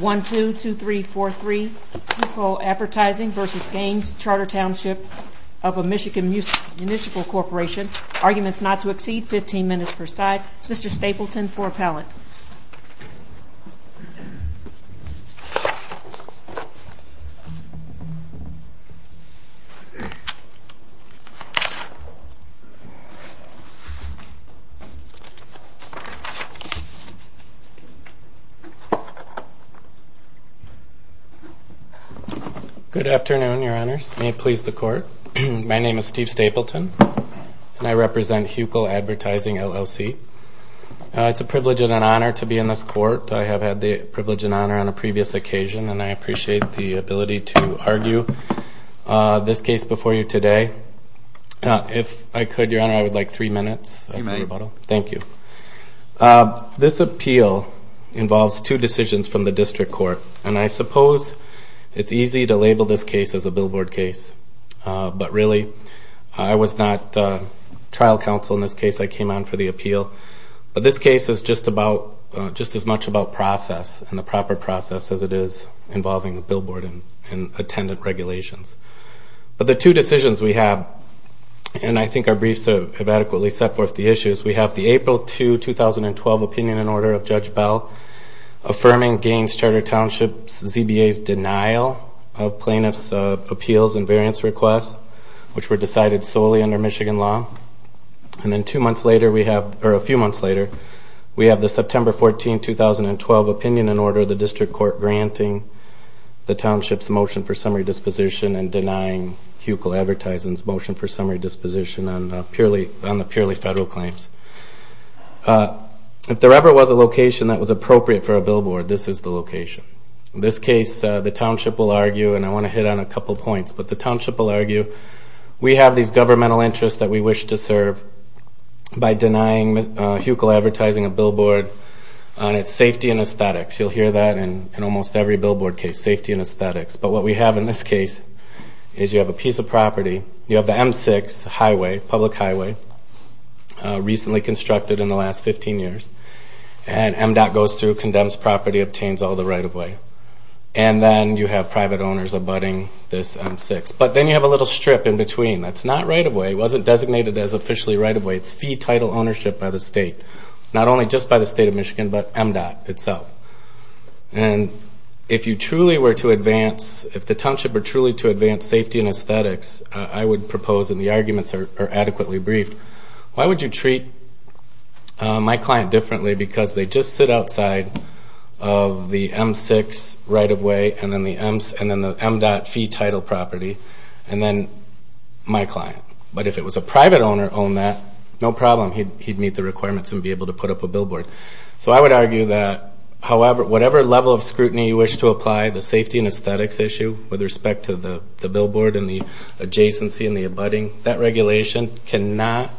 1-2-2-3-4-3 Hucul Advertising v. Gaines Charter Township of a Michigan Municipal Corporation Arguments not to exceed 15 minutes per side Mr. Stapleton for appellate Good afternoon, your honors. May it please the court. My name is Steve Stapleton, and I represent Hucul Advertising, LLC. It's a privilege and an honor to be in this court. I have had the privilege and honor on a previous occasion, and I appreciate the ability to argue this case before you today. If I could, your honor, I would like three minutes of rebuttal. Thank you. This appeal involves two decisions from the district court, and I suppose it's easy to label this case as a billboard case. But really, I was not trial counsel in this case. I came on for the appeal. But this case is just as much about process and the proper process as it is involving a billboard and attendant regulations. But the two decisions we have, and I think our briefs have adequately set forth the issues, we have the April 2, 2012, opinion and order of Judge Bell affirming Gaines Charter Township's ZBA's denial of plaintiff's appeals and variance requests, which were decided solely under Michigan law. And then two months later we have, or a few months later, we have the September 14, 2012, opinion and order of the district court granting the township's motion for summary disposition and denying Hucul Advertising's motion for summary disposition on the purely federal claims. If there ever was a location that was appropriate for a billboard, this is the location. In this case, the township will argue, and I want to hit on a couple of points, but the township will argue we have these governmental interests that we wish to serve by denying Hucul Advertising a billboard on its safety and aesthetics. You'll hear that in almost every billboard case, safety and aesthetics. But what we have in this case is you have a piece of property, you have the M6 highway, public highway, recently constructed in the last 15 years, and MDOT goes through, condemns property, obtains all the right-of-way. And then you have private owners abutting this M6. But then you have a little strip in between. That's not right-of-way. It wasn't designated as officially right-of-way. It's fee title ownership by the state. Not only just by the state of Michigan, but MDOT itself. And if you truly were to advance, if the township were truly to advance safety and aesthetics, I would propose, and the arguments are adequately briefed, why would you treat my client differently because they just sit outside of the M6 right-of-way and then the MDOT fee title property and then my client? But if it was a private owner that owned that, no problem. He'd meet the requirements and be able to put up a billboard. So I would argue that, however, whatever level of scrutiny you wish to apply, the safety and aesthetics issue with respect to the billboard and the adjacency and the abutting, that regulation cannot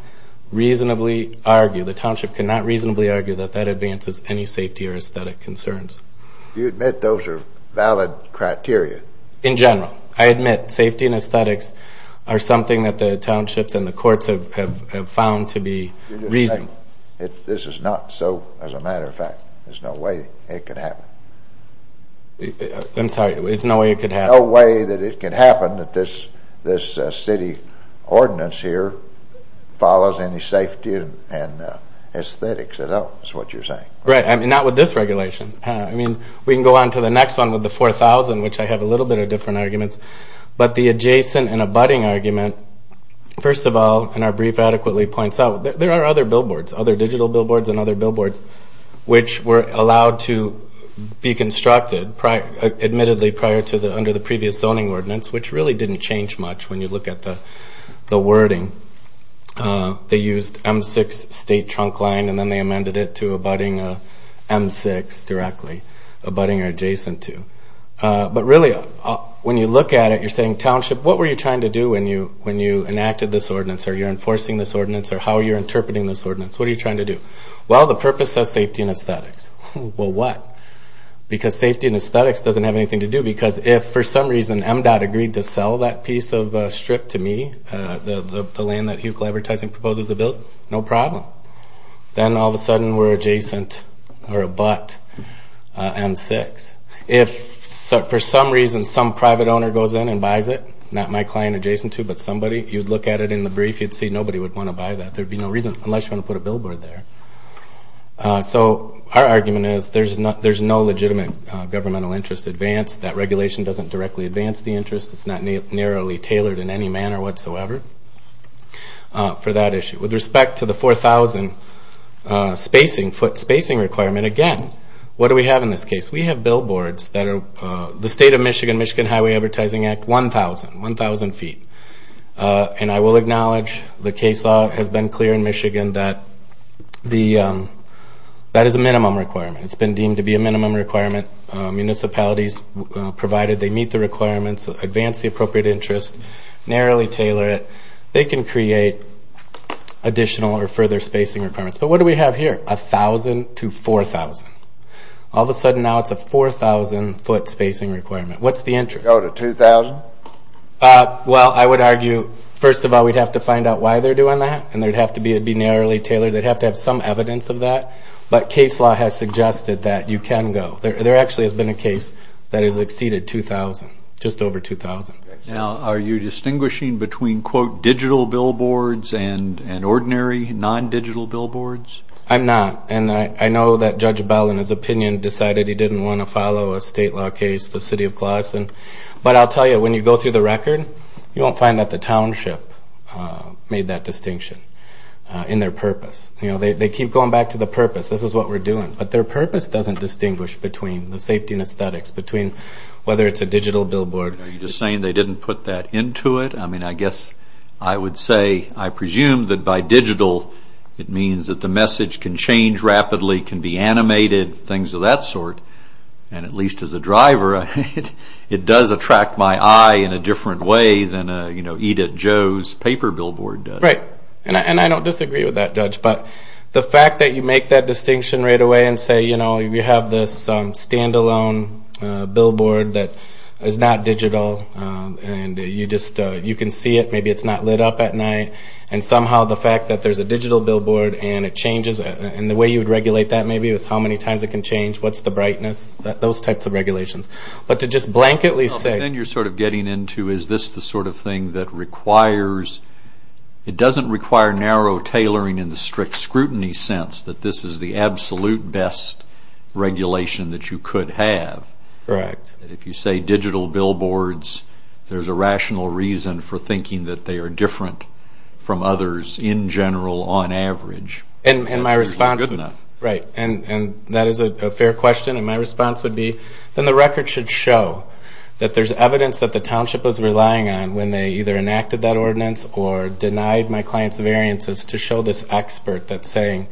reasonably argue, the township cannot reasonably argue that that advances any safety or aesthetic concerns. Do you admit those are valid criteria? In general. I admit safety and aesthetics are something that the townships and the courts have found to be reasonable. This is not so, as a matter of fact. There's no way it could happen. I'm sorry. There's no way it could happen. There's no way that it could happen that this city ordinance here follows any safety and aesthetics at all, is what you're saying. Right. I mean, not with this regulation. I mean, we can go on to the next one with the 4000, which I have a little bit of different arguments. But the adjacent and abutting argument, first of all, and our brief adequately points out, there are other billboards, other digital billboards and other billboards, which were allowed to be constructed, admittedly, prior to under the previous zoning ordinance, which really didn't change much when you look at the wording. They used M6 state trunk line, and then they amended it to abutting M6 directly, abutting or adjacent to. But really, when you look at it, you're saying, township, what were you trying to do when you enacted this ordinance? Are you enforcing this ordinance? Or how are you interpreting this ordinance? What are you trying to do? Well, the purpose says safety and aesthetics. Well, what? Because safety and aesthetics doesn't have anything to do. Because if, for some reason, MDOT agreed to sell that piece of strip to me, the land that Hewcliffe Advertising proposes to build, no problem. Then, all of a sudden, we're adjacent or abut M6. If, for some reason, some private owner goes in and buys it, not my client adjacent to, but somebody, you'd look at it in the brief, you'd see nobody would want to buy that. There'd be no reason, unless you want to put a billboard there. So our argument is there's no legitimate governmental interest advance. That regulation doesn't directly advance the interest. It's not narrowly tailored in any manner whatsoever for that issue. With respect to the 4,000-foot spacing requirement, again, what do we have in this case? We have billboards that are the state of Michigan, Michigan Highway Advertising Act, 1,000, 1,000 feet. And I will acknowledge the case law has been clear in Michigan that that is a minimum requirement. It's been deemed to be a minimum requirement. Municipalities, provided they meet the requirements, advance the appropriate interest, narrowly tailor it, they can create additional or further spacing requirements. But what do we have here? 1,000 to 4,000. All of a sudden now it's a 4,000-foot spacing requirement. What's the interest? Go to 2,000? Well, I would argue, first of all, we'd have to find out why they're doing that, and it would have to be narrowly tailored. They'd have to have some evidence of that. But case law has suggested that you can go. There actually has been a case that has exceeded 2,000, just over 2,000. Now, are you distinguishing between, quote, digital billboards and ordinary non-digital billboards? I'm not. And I know that Judge Bell, in his opinion, decided he didn't want to follow a state law case, the city of Clawson. But I'll tell you, when you go through the record, you won't find that the township made that distinction in their purpose. You know, they keep going back to the purpose. This is what we're doing. But their purpose doesn't distinguish between the safety and aesthetics, between whether it's a digital billboard. Are you just saying they didn't put that into it? I mean, I guess I would say, I presume that by digital, it means that the message can change rapidly, can be animated, things of that sort. And at least as a driver, it does attract my eye in a different way than, you know, Edith Jo's paper billboard does. Right. And I don't disagree with that, Judge. But the fact that you make that distinction right away and say, you know, we have this standalone billboard that is not digital, and you just can see it, maybe it's not lit up at night, and somehow the fact that there's a digital billboard and it changes, and the way you would regulate that maybe is how many times it can change, what's the brightness, those types of regulations. But to just blanketly say... No, but then you're sort of getting into, is this the sort of thing that requires, it doesn't require narrow tailoring in the strict scrutiny sense, that this is the absolute best regulation that you could have. Correct. If you say digital billboards, there's a rational reason for thinking that they are different from others in general on average. And my response... Good enough. Right. And that is a fair question, and my response would be, then the record should show that there's evidence that the township was relying on when they either enacted that ordinance or denied my client's variances to show this expert that's saying,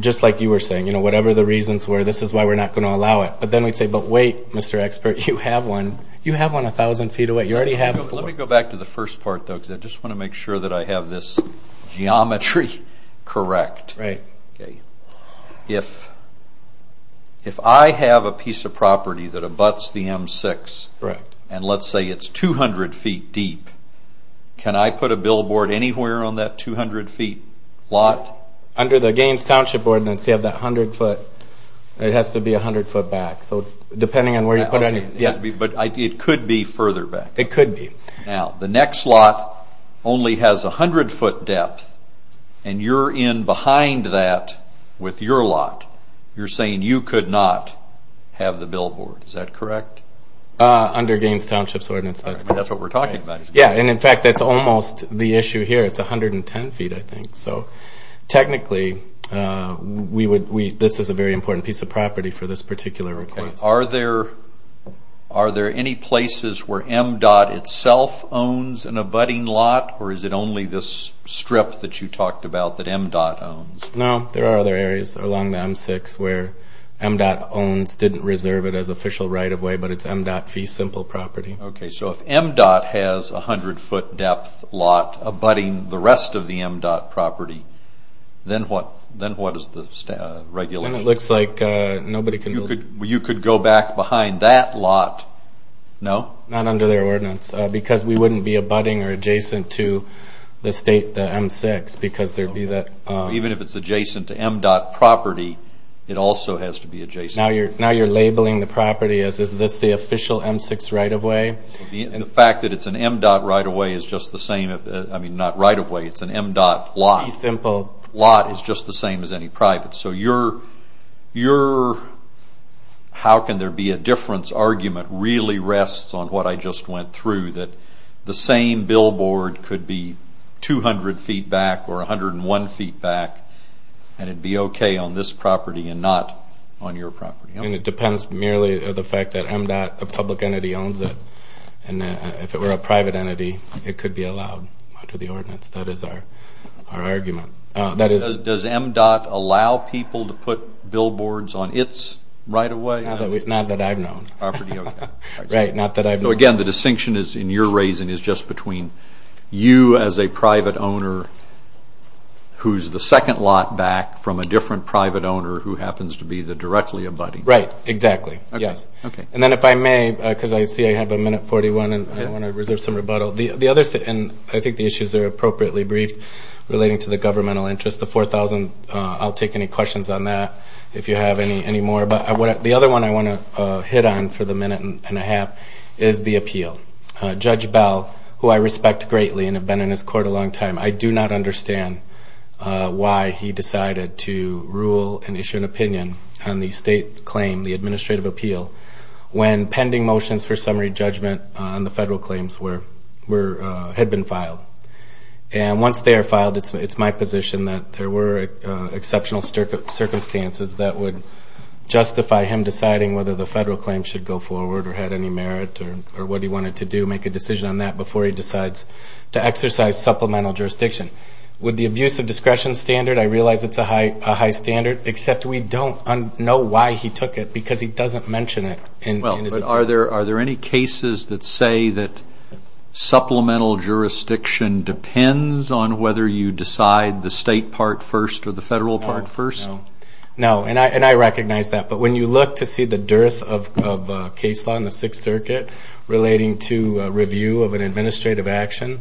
just like you were saying, you know, whatever the reasons were, this is why we're not going to allow it. But then we'd say, but wait, Mr. Expert, you have one, you have one 1,000 feet away. You already have... Let me go back to the first part, though, because I just want to make sure that I have this geometry correct. Right. Okay. If I have a piece of property that abuts the M6... Correct. And let's say it's 200 feet deep, can I put a billboard anywhere on that 200 feet lot? Under the Gaines Township Ordinance, you have that 100 foot. It has to be 100 foot back. So depending on where you put it... But it could be further back. It could be. Now, the next lot only has 100 foot depth, and you're in behind that with your lot. You're saying you could not have the billboard. Is that correct? Under Gaines Township's Ordinance, that's correct. That's what we're talking about. Yeah, and in fact, that's almost the issue here. It's 110 feet, I think. So technically, this is a very important piece of property for this particular request. Okay. Are there any places where MDOT itself owns an abutting lot, or is it only this strip that you talked about that MDOT owns? No, there are other areas along the M6 where MDOT owns. Didn't reserve it as official right-of-way, but it's MDOT fee simple property. Okay, so if MDOT has a 100 foot depth lot abutting the rest of the MDOT property, then what is the regulation? It looks like nobody can... You could go back behind that lot. No? Not under their ordinance, because we wouldn't be abutting or adjacent to the state, the M6, because there would be that... Even if it's adjacent to MDOT property, it also has to be adjacent. Now you're labeling the property as, is this the official M6 right-of-way? The fact that it's an MDOT right-of-way is just the same... I mean, not right-of-way, it's an MDOT lot. Fee simple. Lot is just the same as any private. So your how can there be a difference argument really rests on what I just went through, that the same billboard could be 200 feet back or 101 feet back, and it'd be okay on this property and not on your property. And it depends merely on the fact that MDOT, a public entity, owns it, and if it were a private entity, it could be allowed under the ordinance. That is our argument. Does MDOT allow people to put billboards on its right-of-way? Not that I've known. Right, not that I've known. So again, the distinction in your raising is just between you as a private owner who's the second lot back from a different private owner who happens to be the directly abutting. Right, exactly, yes. And then if I may, because I see I have a minute 41, and I want to reserve some rebuttal. The other thing, and I think the issues are appropriately briefed, relating to the governmental interest, the 4,000, I'll take any questions on that if you have any more. But the other one I want to hit on for the minute and a half is the appeal. Judge Bell, who I respect greatly and have been in his court a long time, I do not understand why he decided to rule and issue an opinion on the state claim, the administrative appeal, when pending motions for summary judgment on the federal claims had been filed. And once they are filed, it's my position that there were exceptional circumstances that would justify him deciding whether the federal claim should go forward or had any merit or what he wanted to do, make a decision on that, before he decides to exercise supplemental jurisdiction. With the abuse of discretion standard, I realize it's a high standard, except we don't know why he took it, because he doesn't mention it in his opinion. Well, but are there any cases that say that supplemental jurisdiction depends on whether you decide the state part first or the federal part first? No, and I recognize that. But when you look to see the dearth of case law in the Sixth Circuit, relating to review of an administrative action,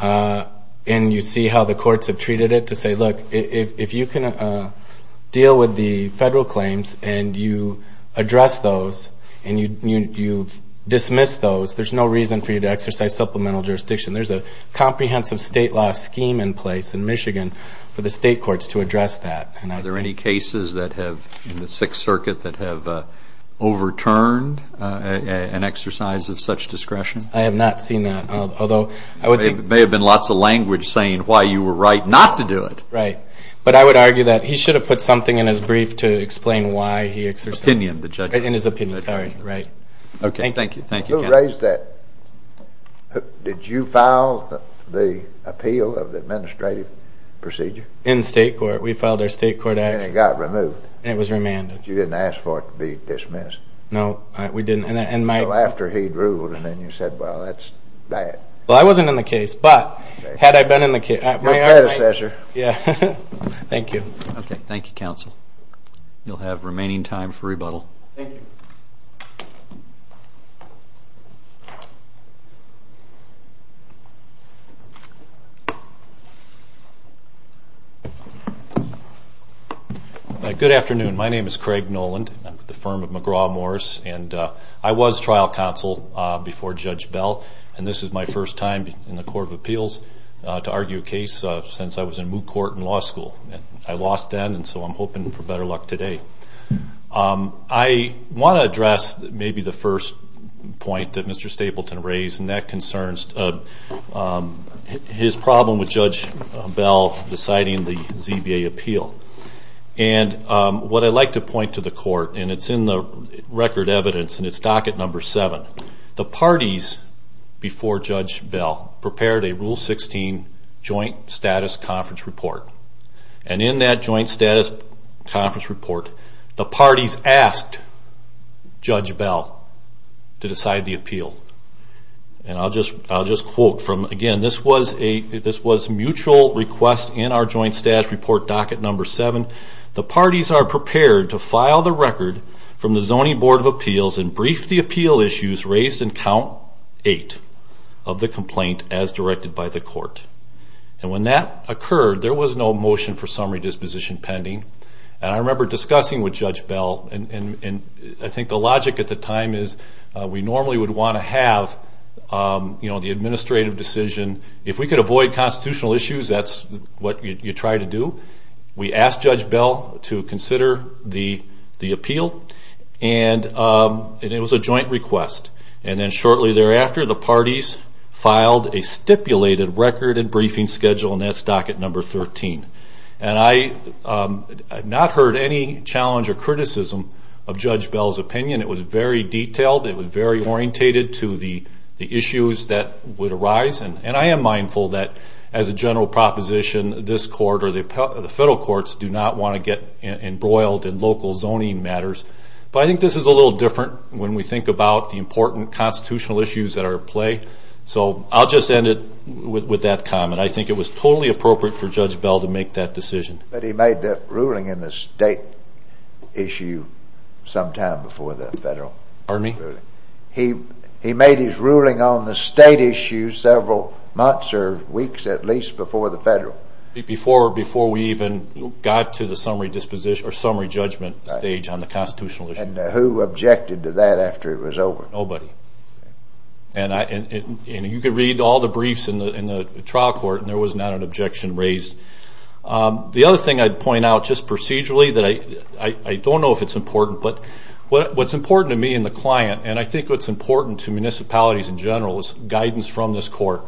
and you see how the courts have treated it, to say, look, if you can deal with the federal claims and you address those and you dismiss those, there's no reason for you to exercise supplemental jurisdiction. There's a comprehensive state law scheme in place in Michigan for the state courts to address that. Are there any cases in the Sixth Circuit that have overturned an exercise of such discretion? I have not seen that. There may have been lots of language saying why you were right not to do it. Right. But I would argue that he should have put something in his brief to explain why he exercised it. Opinion. In his opinion. Sorry. Right. Okay. Thank you. Who raised that? Did you file the appeal of the administrative procedure? In the state court. We filed our state court action. And it got removed. And it was remanded. You didn't ask for it to be dismissed. No, we didn't. Well, after he'd ruled and then you said, well, that's that. Well, I wasn't in the case, but had I been in the case. Your predecessor. Yeah. Thank you. Okay. Thank you, counsel. You'll have remaining time for rebuttal. Thank you. Good afternoon. My name is Craig Noland. I'm with the firm of McGraw-Morris. And I was trial counsel before Judge Bell. And this is my first time in the Court of Appeals to argue a case since I was in Moot Court in law school. I lost then, and so I'm hoping for better luck today. I want to address maybe the first point that Mr. Stapleton raised, and that concerns his problem with Judge Bell deciding the ZBA appeal. And what I'd like to point to the court, and it's in the record evidence, and it's docket number seven. The parties before Judge Bell prepared a Rule 16 joint status conference report. And in that joint status conference report, the parties asked Judge Bell to decide the appeal. And I'll just quote from, again, this was mutual request in our joint status report docket number seven. The parties are prepared to file the record from the Zoning Board of Appeals and brief the appeal issues raised in count eight of the complaint as directed by the court. And when that occurred, there was no motion for summary disposition pending. And I remember discussing with Judge Bell, and I think the logic at the time is we normally would want to have, you know, the administrative decision. If we could avoid constitutional issues, that's what you try to do. We asked Judge Bell to consider the appeal, and it was a joint request. And then shortly thereafter, the parties filed a stipulated record and briefing schedule, and that's docket number 13. And I have not heard any challenge or criticism of Judge Bell's opinion. It was very detailed. It was very orientated to the issues that would arise. And I am mindful that, as a general proposition, this court or the federal courts do not want to get embroiled in local zoning matters. But I think this is a little different when we think about the important constitutional issues that are at play. So I'll just end it with that comment. I think it was totally appropriate for Judge Bell to make that decision. But he made that ruling in the state issue sometime before the federal ruling. Pardon me? He made his ruling on the state issue several months or weeks at least before the federal. Before we even got to the summary judgment stage on the constitutional issue. And who objected to that after it was over? Nobody. And you could read all the briefs in the trial court, and there was not an objection raised. The other thing I'd point out just procedurally that I don't know if it's important, but what's important to me and the client, and I think what's important to municipalities in general, is guidance from this court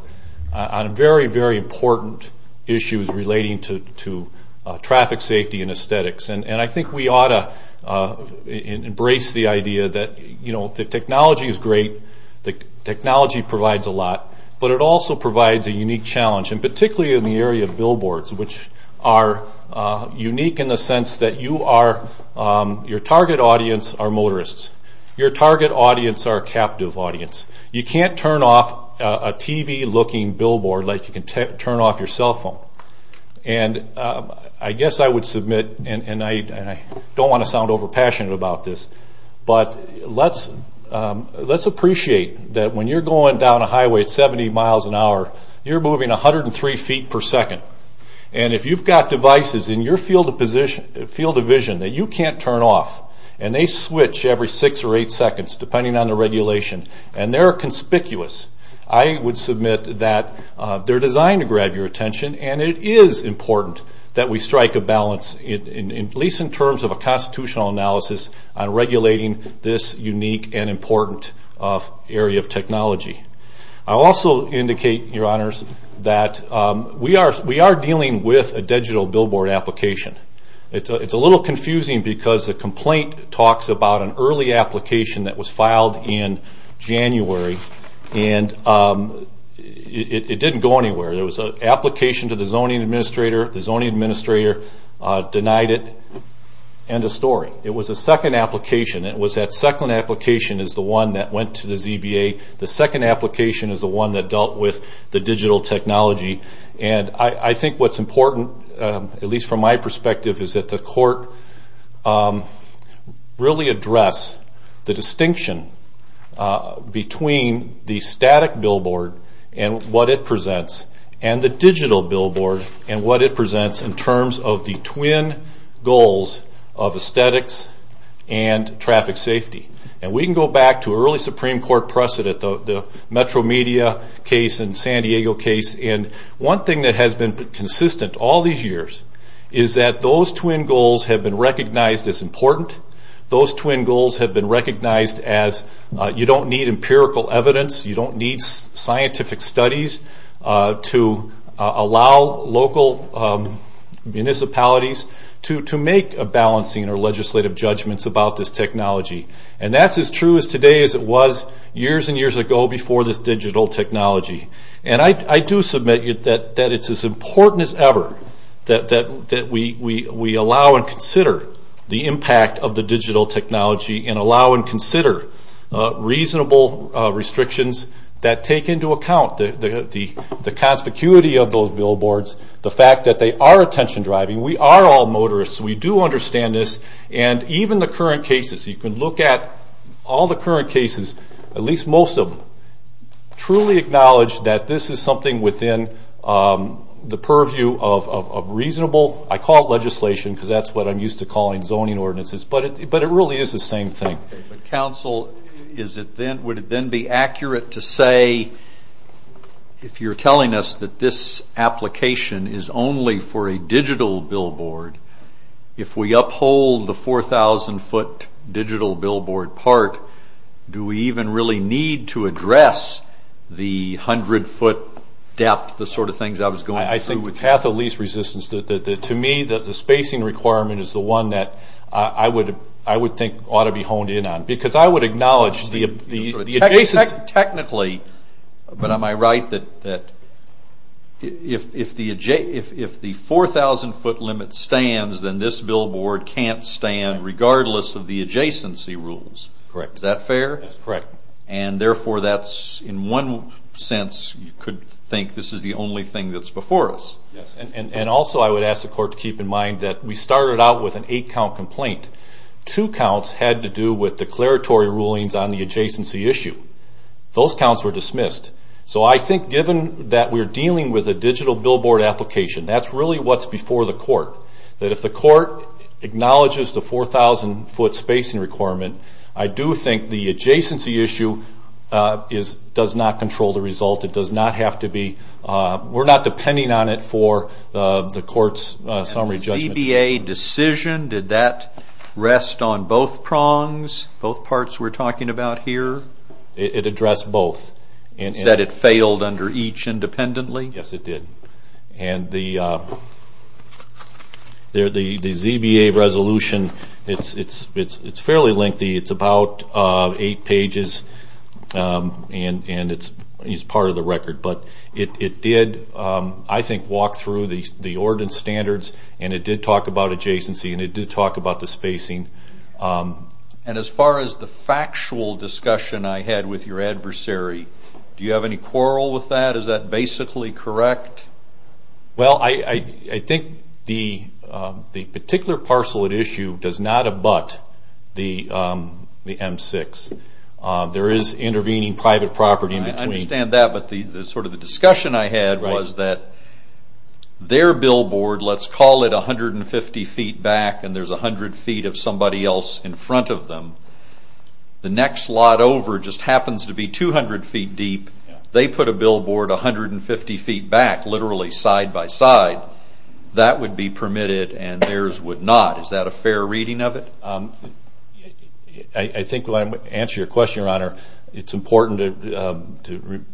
on very, very important issues relating to traffic safety and aesthetics. And I think we ought to embrace the idea that the technology is great, the technology provides a lot, but it also provides a unique challenge, and particularly in the area of billboards, which are unique in the sense that your target audience are motorists. Your target audience are captive audience. You can't turn off a TV-looking billboard like you can turn off your cell phone. And I guess I would submit, and I don't want to sound overpassionate about this, but let's appreciate that when you're going down a highway at 70 miles an hour, you're moving 103 feet per second. And if you've got devices in your field of vision that you can't turn off, and they switch every six or eight seconds, depending on the regulation, and they're conspicuous, I would submit that they're designed to grab your attention, and it is important that we strike a balance, at least in terms of a constitutional analysis, on regulating this unique and important area of technology. I'll also indicate, Your Honors, that we are dealing with a digital billboard application. It's a little confusing because the complaint talks about an early application that was filed in January, and it didn't go anywhere. There was an application to the zoning administrator. The zoning administrator denied it. End of story. It was a second application. It was that second application is the one that went to the ZBA. The second application is the one that dealt with the digital technology. I think what's important, at least from my perspective, is that the court really address the distinction between the static billboard and what it presents, and the digital billboard and what it presents in terms of the twin goals of aesthetics and traffic safety. We can go back to an early Supreme Court precedent, the Metro Media case and San Diego case, and one thing that has been consistent all these years is that those twin goals have been recognized as important. Those twin goals have been recognized as you don't need empirical evidence, you don't need scientific studies to allow local municipalities to make a balancing or legislative judgments about this technology. That's as true as today as it was years and years ago before this digital technology. I do submit that it's as important as ever that we allow and consider the impact of the digital technology and allow and consider reasonable restrictions that take into account the conspicuity of those billboards, the fact that they are attention driving. We are all motorists. We do understand this. Even the current cases, you can look at all the current cases, at least most of them, truly acknowledge that this is something within the purview of reasonable, I call it legislation because that's what I'm used to calling zoning ordinances, but it really is the same thing. Counsel, would it then be accurate to say, if you're telling us that this application is only for a digital billboard, if we uphold the 4,000 foot digital billboard part, do we even really need to address the 100 foot depth, the sort of things I was going through? I think with half the lease resistance, to me the spacing requirement is the one that I would think ought to be honed in on I would acknowledge technically, but am I right, that if the 4,000 foot limit stands, then this billboard can't stand regardless of the adjacency rules. Correct. Is that fair? That's correct. Therefore, in one sense, you could think this is the only thing that's before us. Also, I would ask the court to keep in mind that we started out with an eight count complaint. Two counts had to do with declaratory rulings on the adjacency issue. Those counts were dismissed. So I think given that we're dealing with a digital billboard application, that's really what's before the court, that if the court acknowledges the 4,000 foot spacing requirement, I do think the adjacency issue does not control the result. We're not depending on it for the court's summary judgment. The ZBA decision, did that rest on both prongs, both parts we're talking about here? It addressed both. Is that it failed under each independently? Yes, it did. The ZBA resolution, it's fairly lengthy. It's about eight pages and it's part of the record. But it did, I think, walk through the ordinance standards and it did talk about adjacency and it did talk about the spacing. And as far as the factual discussion I had with your adversary, do you have any quarrel with that? Is that basically correct? Well, I think the particular parcel at issue does not abut the M6. There is intervening private property in between. I understand that, but sort of the discussion I had was that their billboard, let's call it 150 feet back and there's 100 feet of somebody else in front of them. The next lot over just happens to be 200 feet deep. They put a billboard 150 feet back, literally side by side. That would be permitted and theirs would not. Is that a fair reading of it? I think when I answer your question, Your Honor, it's important to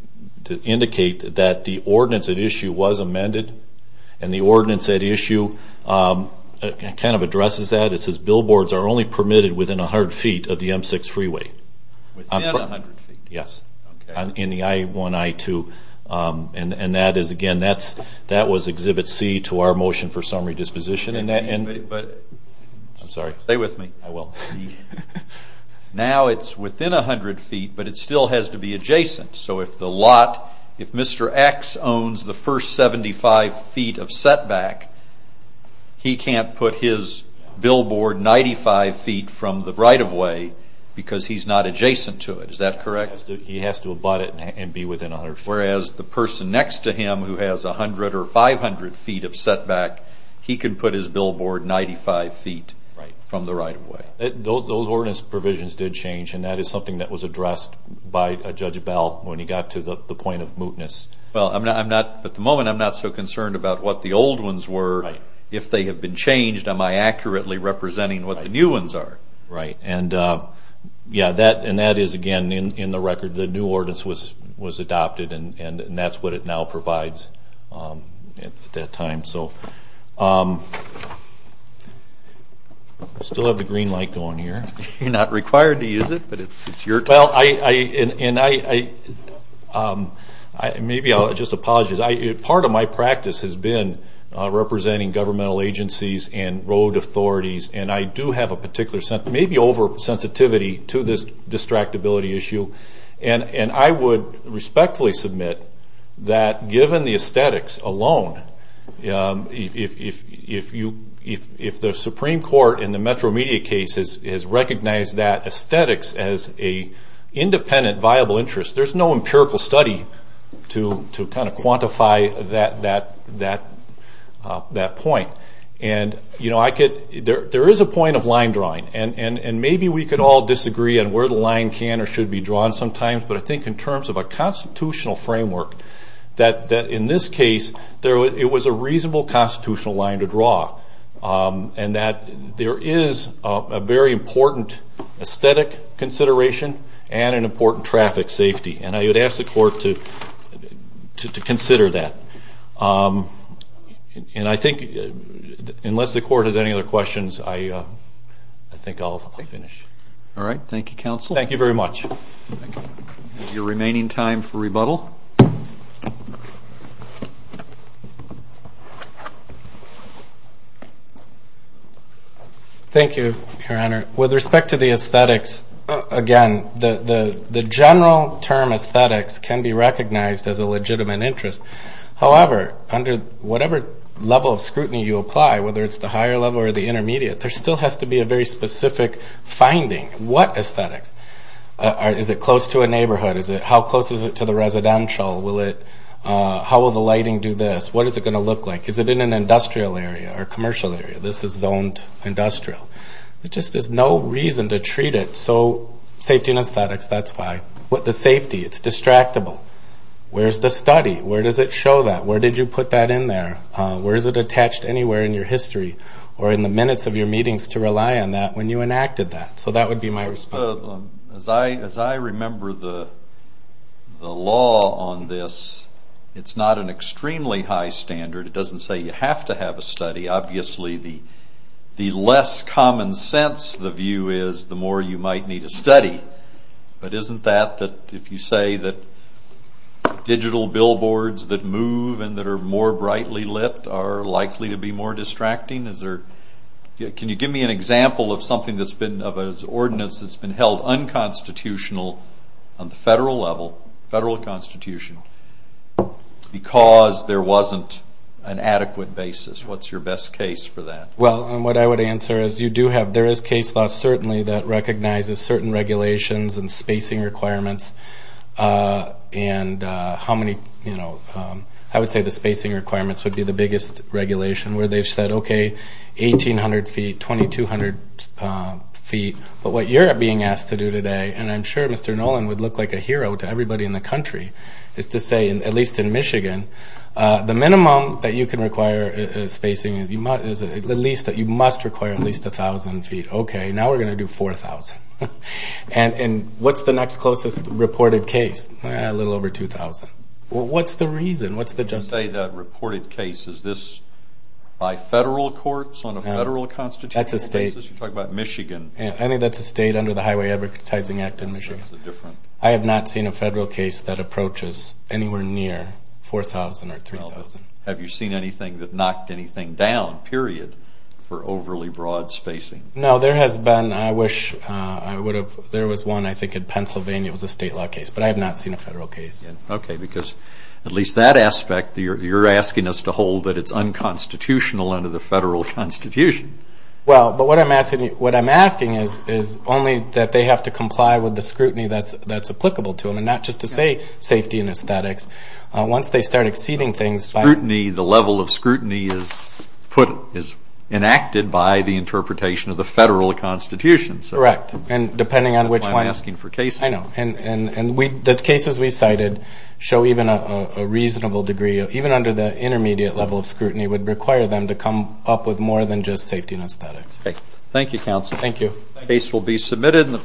indicate that the ordinance at issue was amended and the ordinance at issue kind of addresses that. It says billboards are only permitted within 100 feet of the M6 freeway. Within 100 feet? Yes, in the I-1, I-2. And, again, that was Exhibit C to our motion for summary disposition. I'm sorry. Stay with me. I will. Now it's within 100 feet, but it still has to be adjacent. So if the lot, if Mr. X owns the first 75 feet of setback, he can't put his billboard 95 feet from the right-of-way because he's not adjacent to it. Is that correct? He has to abut it and be within 100 feet. Whereas the person next to him who has 100 or 500 feet of setback, he can put his billboard 95 feet from the right-of-way. Those ordinance provisions did change, and that is something that was addressed by Judge Bell when he got to the point of mootness. Well, at the moment I'm not so concerned about what the old ones were. If they have been changed, am I accurately representing what the new ones are? Right. And, yeah, that is, again, in the record. The new ordinance was adopted, and that's what it now provides at that time. So I still have the green light going here. You're not required to use it, but it's your time. Well, maybe I'll just apologize. Part of my practice has been representing governmental agencies and road authorities, and I do have a particular maybe over-sensitivity to this distractibility issue. And I would respectfully submit that given the aesthetics alone, if the Supreme Court in the Metro Media case has recognized that aesthetics as an independent viable interest, there's no empirical study to kind of quantify that point. And, you know, there is a point of line drawing, and maybe we could all disagree on where the line can or should be drawn sometimes, but I think in terms of a constitutional framework that, in this case, it was a reasonable constitutional line to draw, and that there is a very important aesthetic consideration and an important traffic safety. And I would ask the Court to consider that. And I think unless the Court has any other questions, I think I'll finish. All right. Thank you, Counsel. Thank you very much. Your remaining time for rebuttal. Thank you, Your Honor. With respect to the aesthetics, again, the general term aesthetics can be recognized as a legitimate interest. However, under whatever level of scrutiny you apply, whether it's the higher level or the intermediate, there still has to be a very specific finding. What aesthetics? Is it close to a neighborhood? How close is it to the residential? How will the lighting do this? What is it going to look like? Is it in an industrial area or commercial area? This is zoned industrial. There just is no reason to treat it. So safety and aesthetics, that's why. What's the safety? It's distractible. Where's the study? Where does it show that? Where did you put that in there? Where is it attached anywhere in your history or in the minutes of your meetings to rely on that when you enacted that? So that would be my response. As I remember the law on this, it's not an extremely high standard. It doesn't say you have to have a study. Obviously, the less common sense the view is, the more you might need a study. But isn't that, if you say that digital billboards that move and that are more brightly lit are likely to be more distracting? Can you give me an example of an ordinance that's been held unconstitutional on the federal level, federal constitution, because there wasn't an adequate basis? What's your best case for that? Well, what I would answer is there is case law, certainly, that recognizes certain regulations and spacing requirements. And I would say the spacing requirements would be the biggest regulation where they've said, okay, 1,800 feet, 2,200 feet. But what you're being asked to do today, and I'm sure Mr. Nolan would look like a hero to everybody in the country, is to say, at least in Michigan, the minimum that you can require spacing is at least that you must require at least 1,000 feet. Okay, now we're going to do 4,000. And what's the next closest reported case? A little over 2,000. Well, what's the reason? What's the justice? Let's say that reported case, is this by federal courts on a federal constitutional basis? That's a state. You're talking about Michigan. I think that's a state under the Highway Advertising Act in Michigan. I have not seen a federal case that approaches anywhere near 4,000 or 3,000. Have you seen anything that knocked anything down, period, for overly broad spacing? No, there has been. I wish I would have. There was one, I think, in Pennsylvania. It was a state law case. But I have not seen a federal case. Okay, because at least that aspect, you're asking us to hold that it's unconstitutional under the federal constitution. Well, but what I'm asking is only that they have to comply with the scrutiny that's applicable to them, and not just to say safety and aesthetics. Once they start exceeding things by the level of scrutiny is enacted by the interpretation of the federal constitution. Correct. And depending on which one. That's why I'm asking for cases. I know. And the cases we cited show even a reasonable degree, even under the intermediate level of scrutiny would require them to come up with more than just safety and aesthetics. Okay. Thank you, counsel. Thank you. The case will be submitted.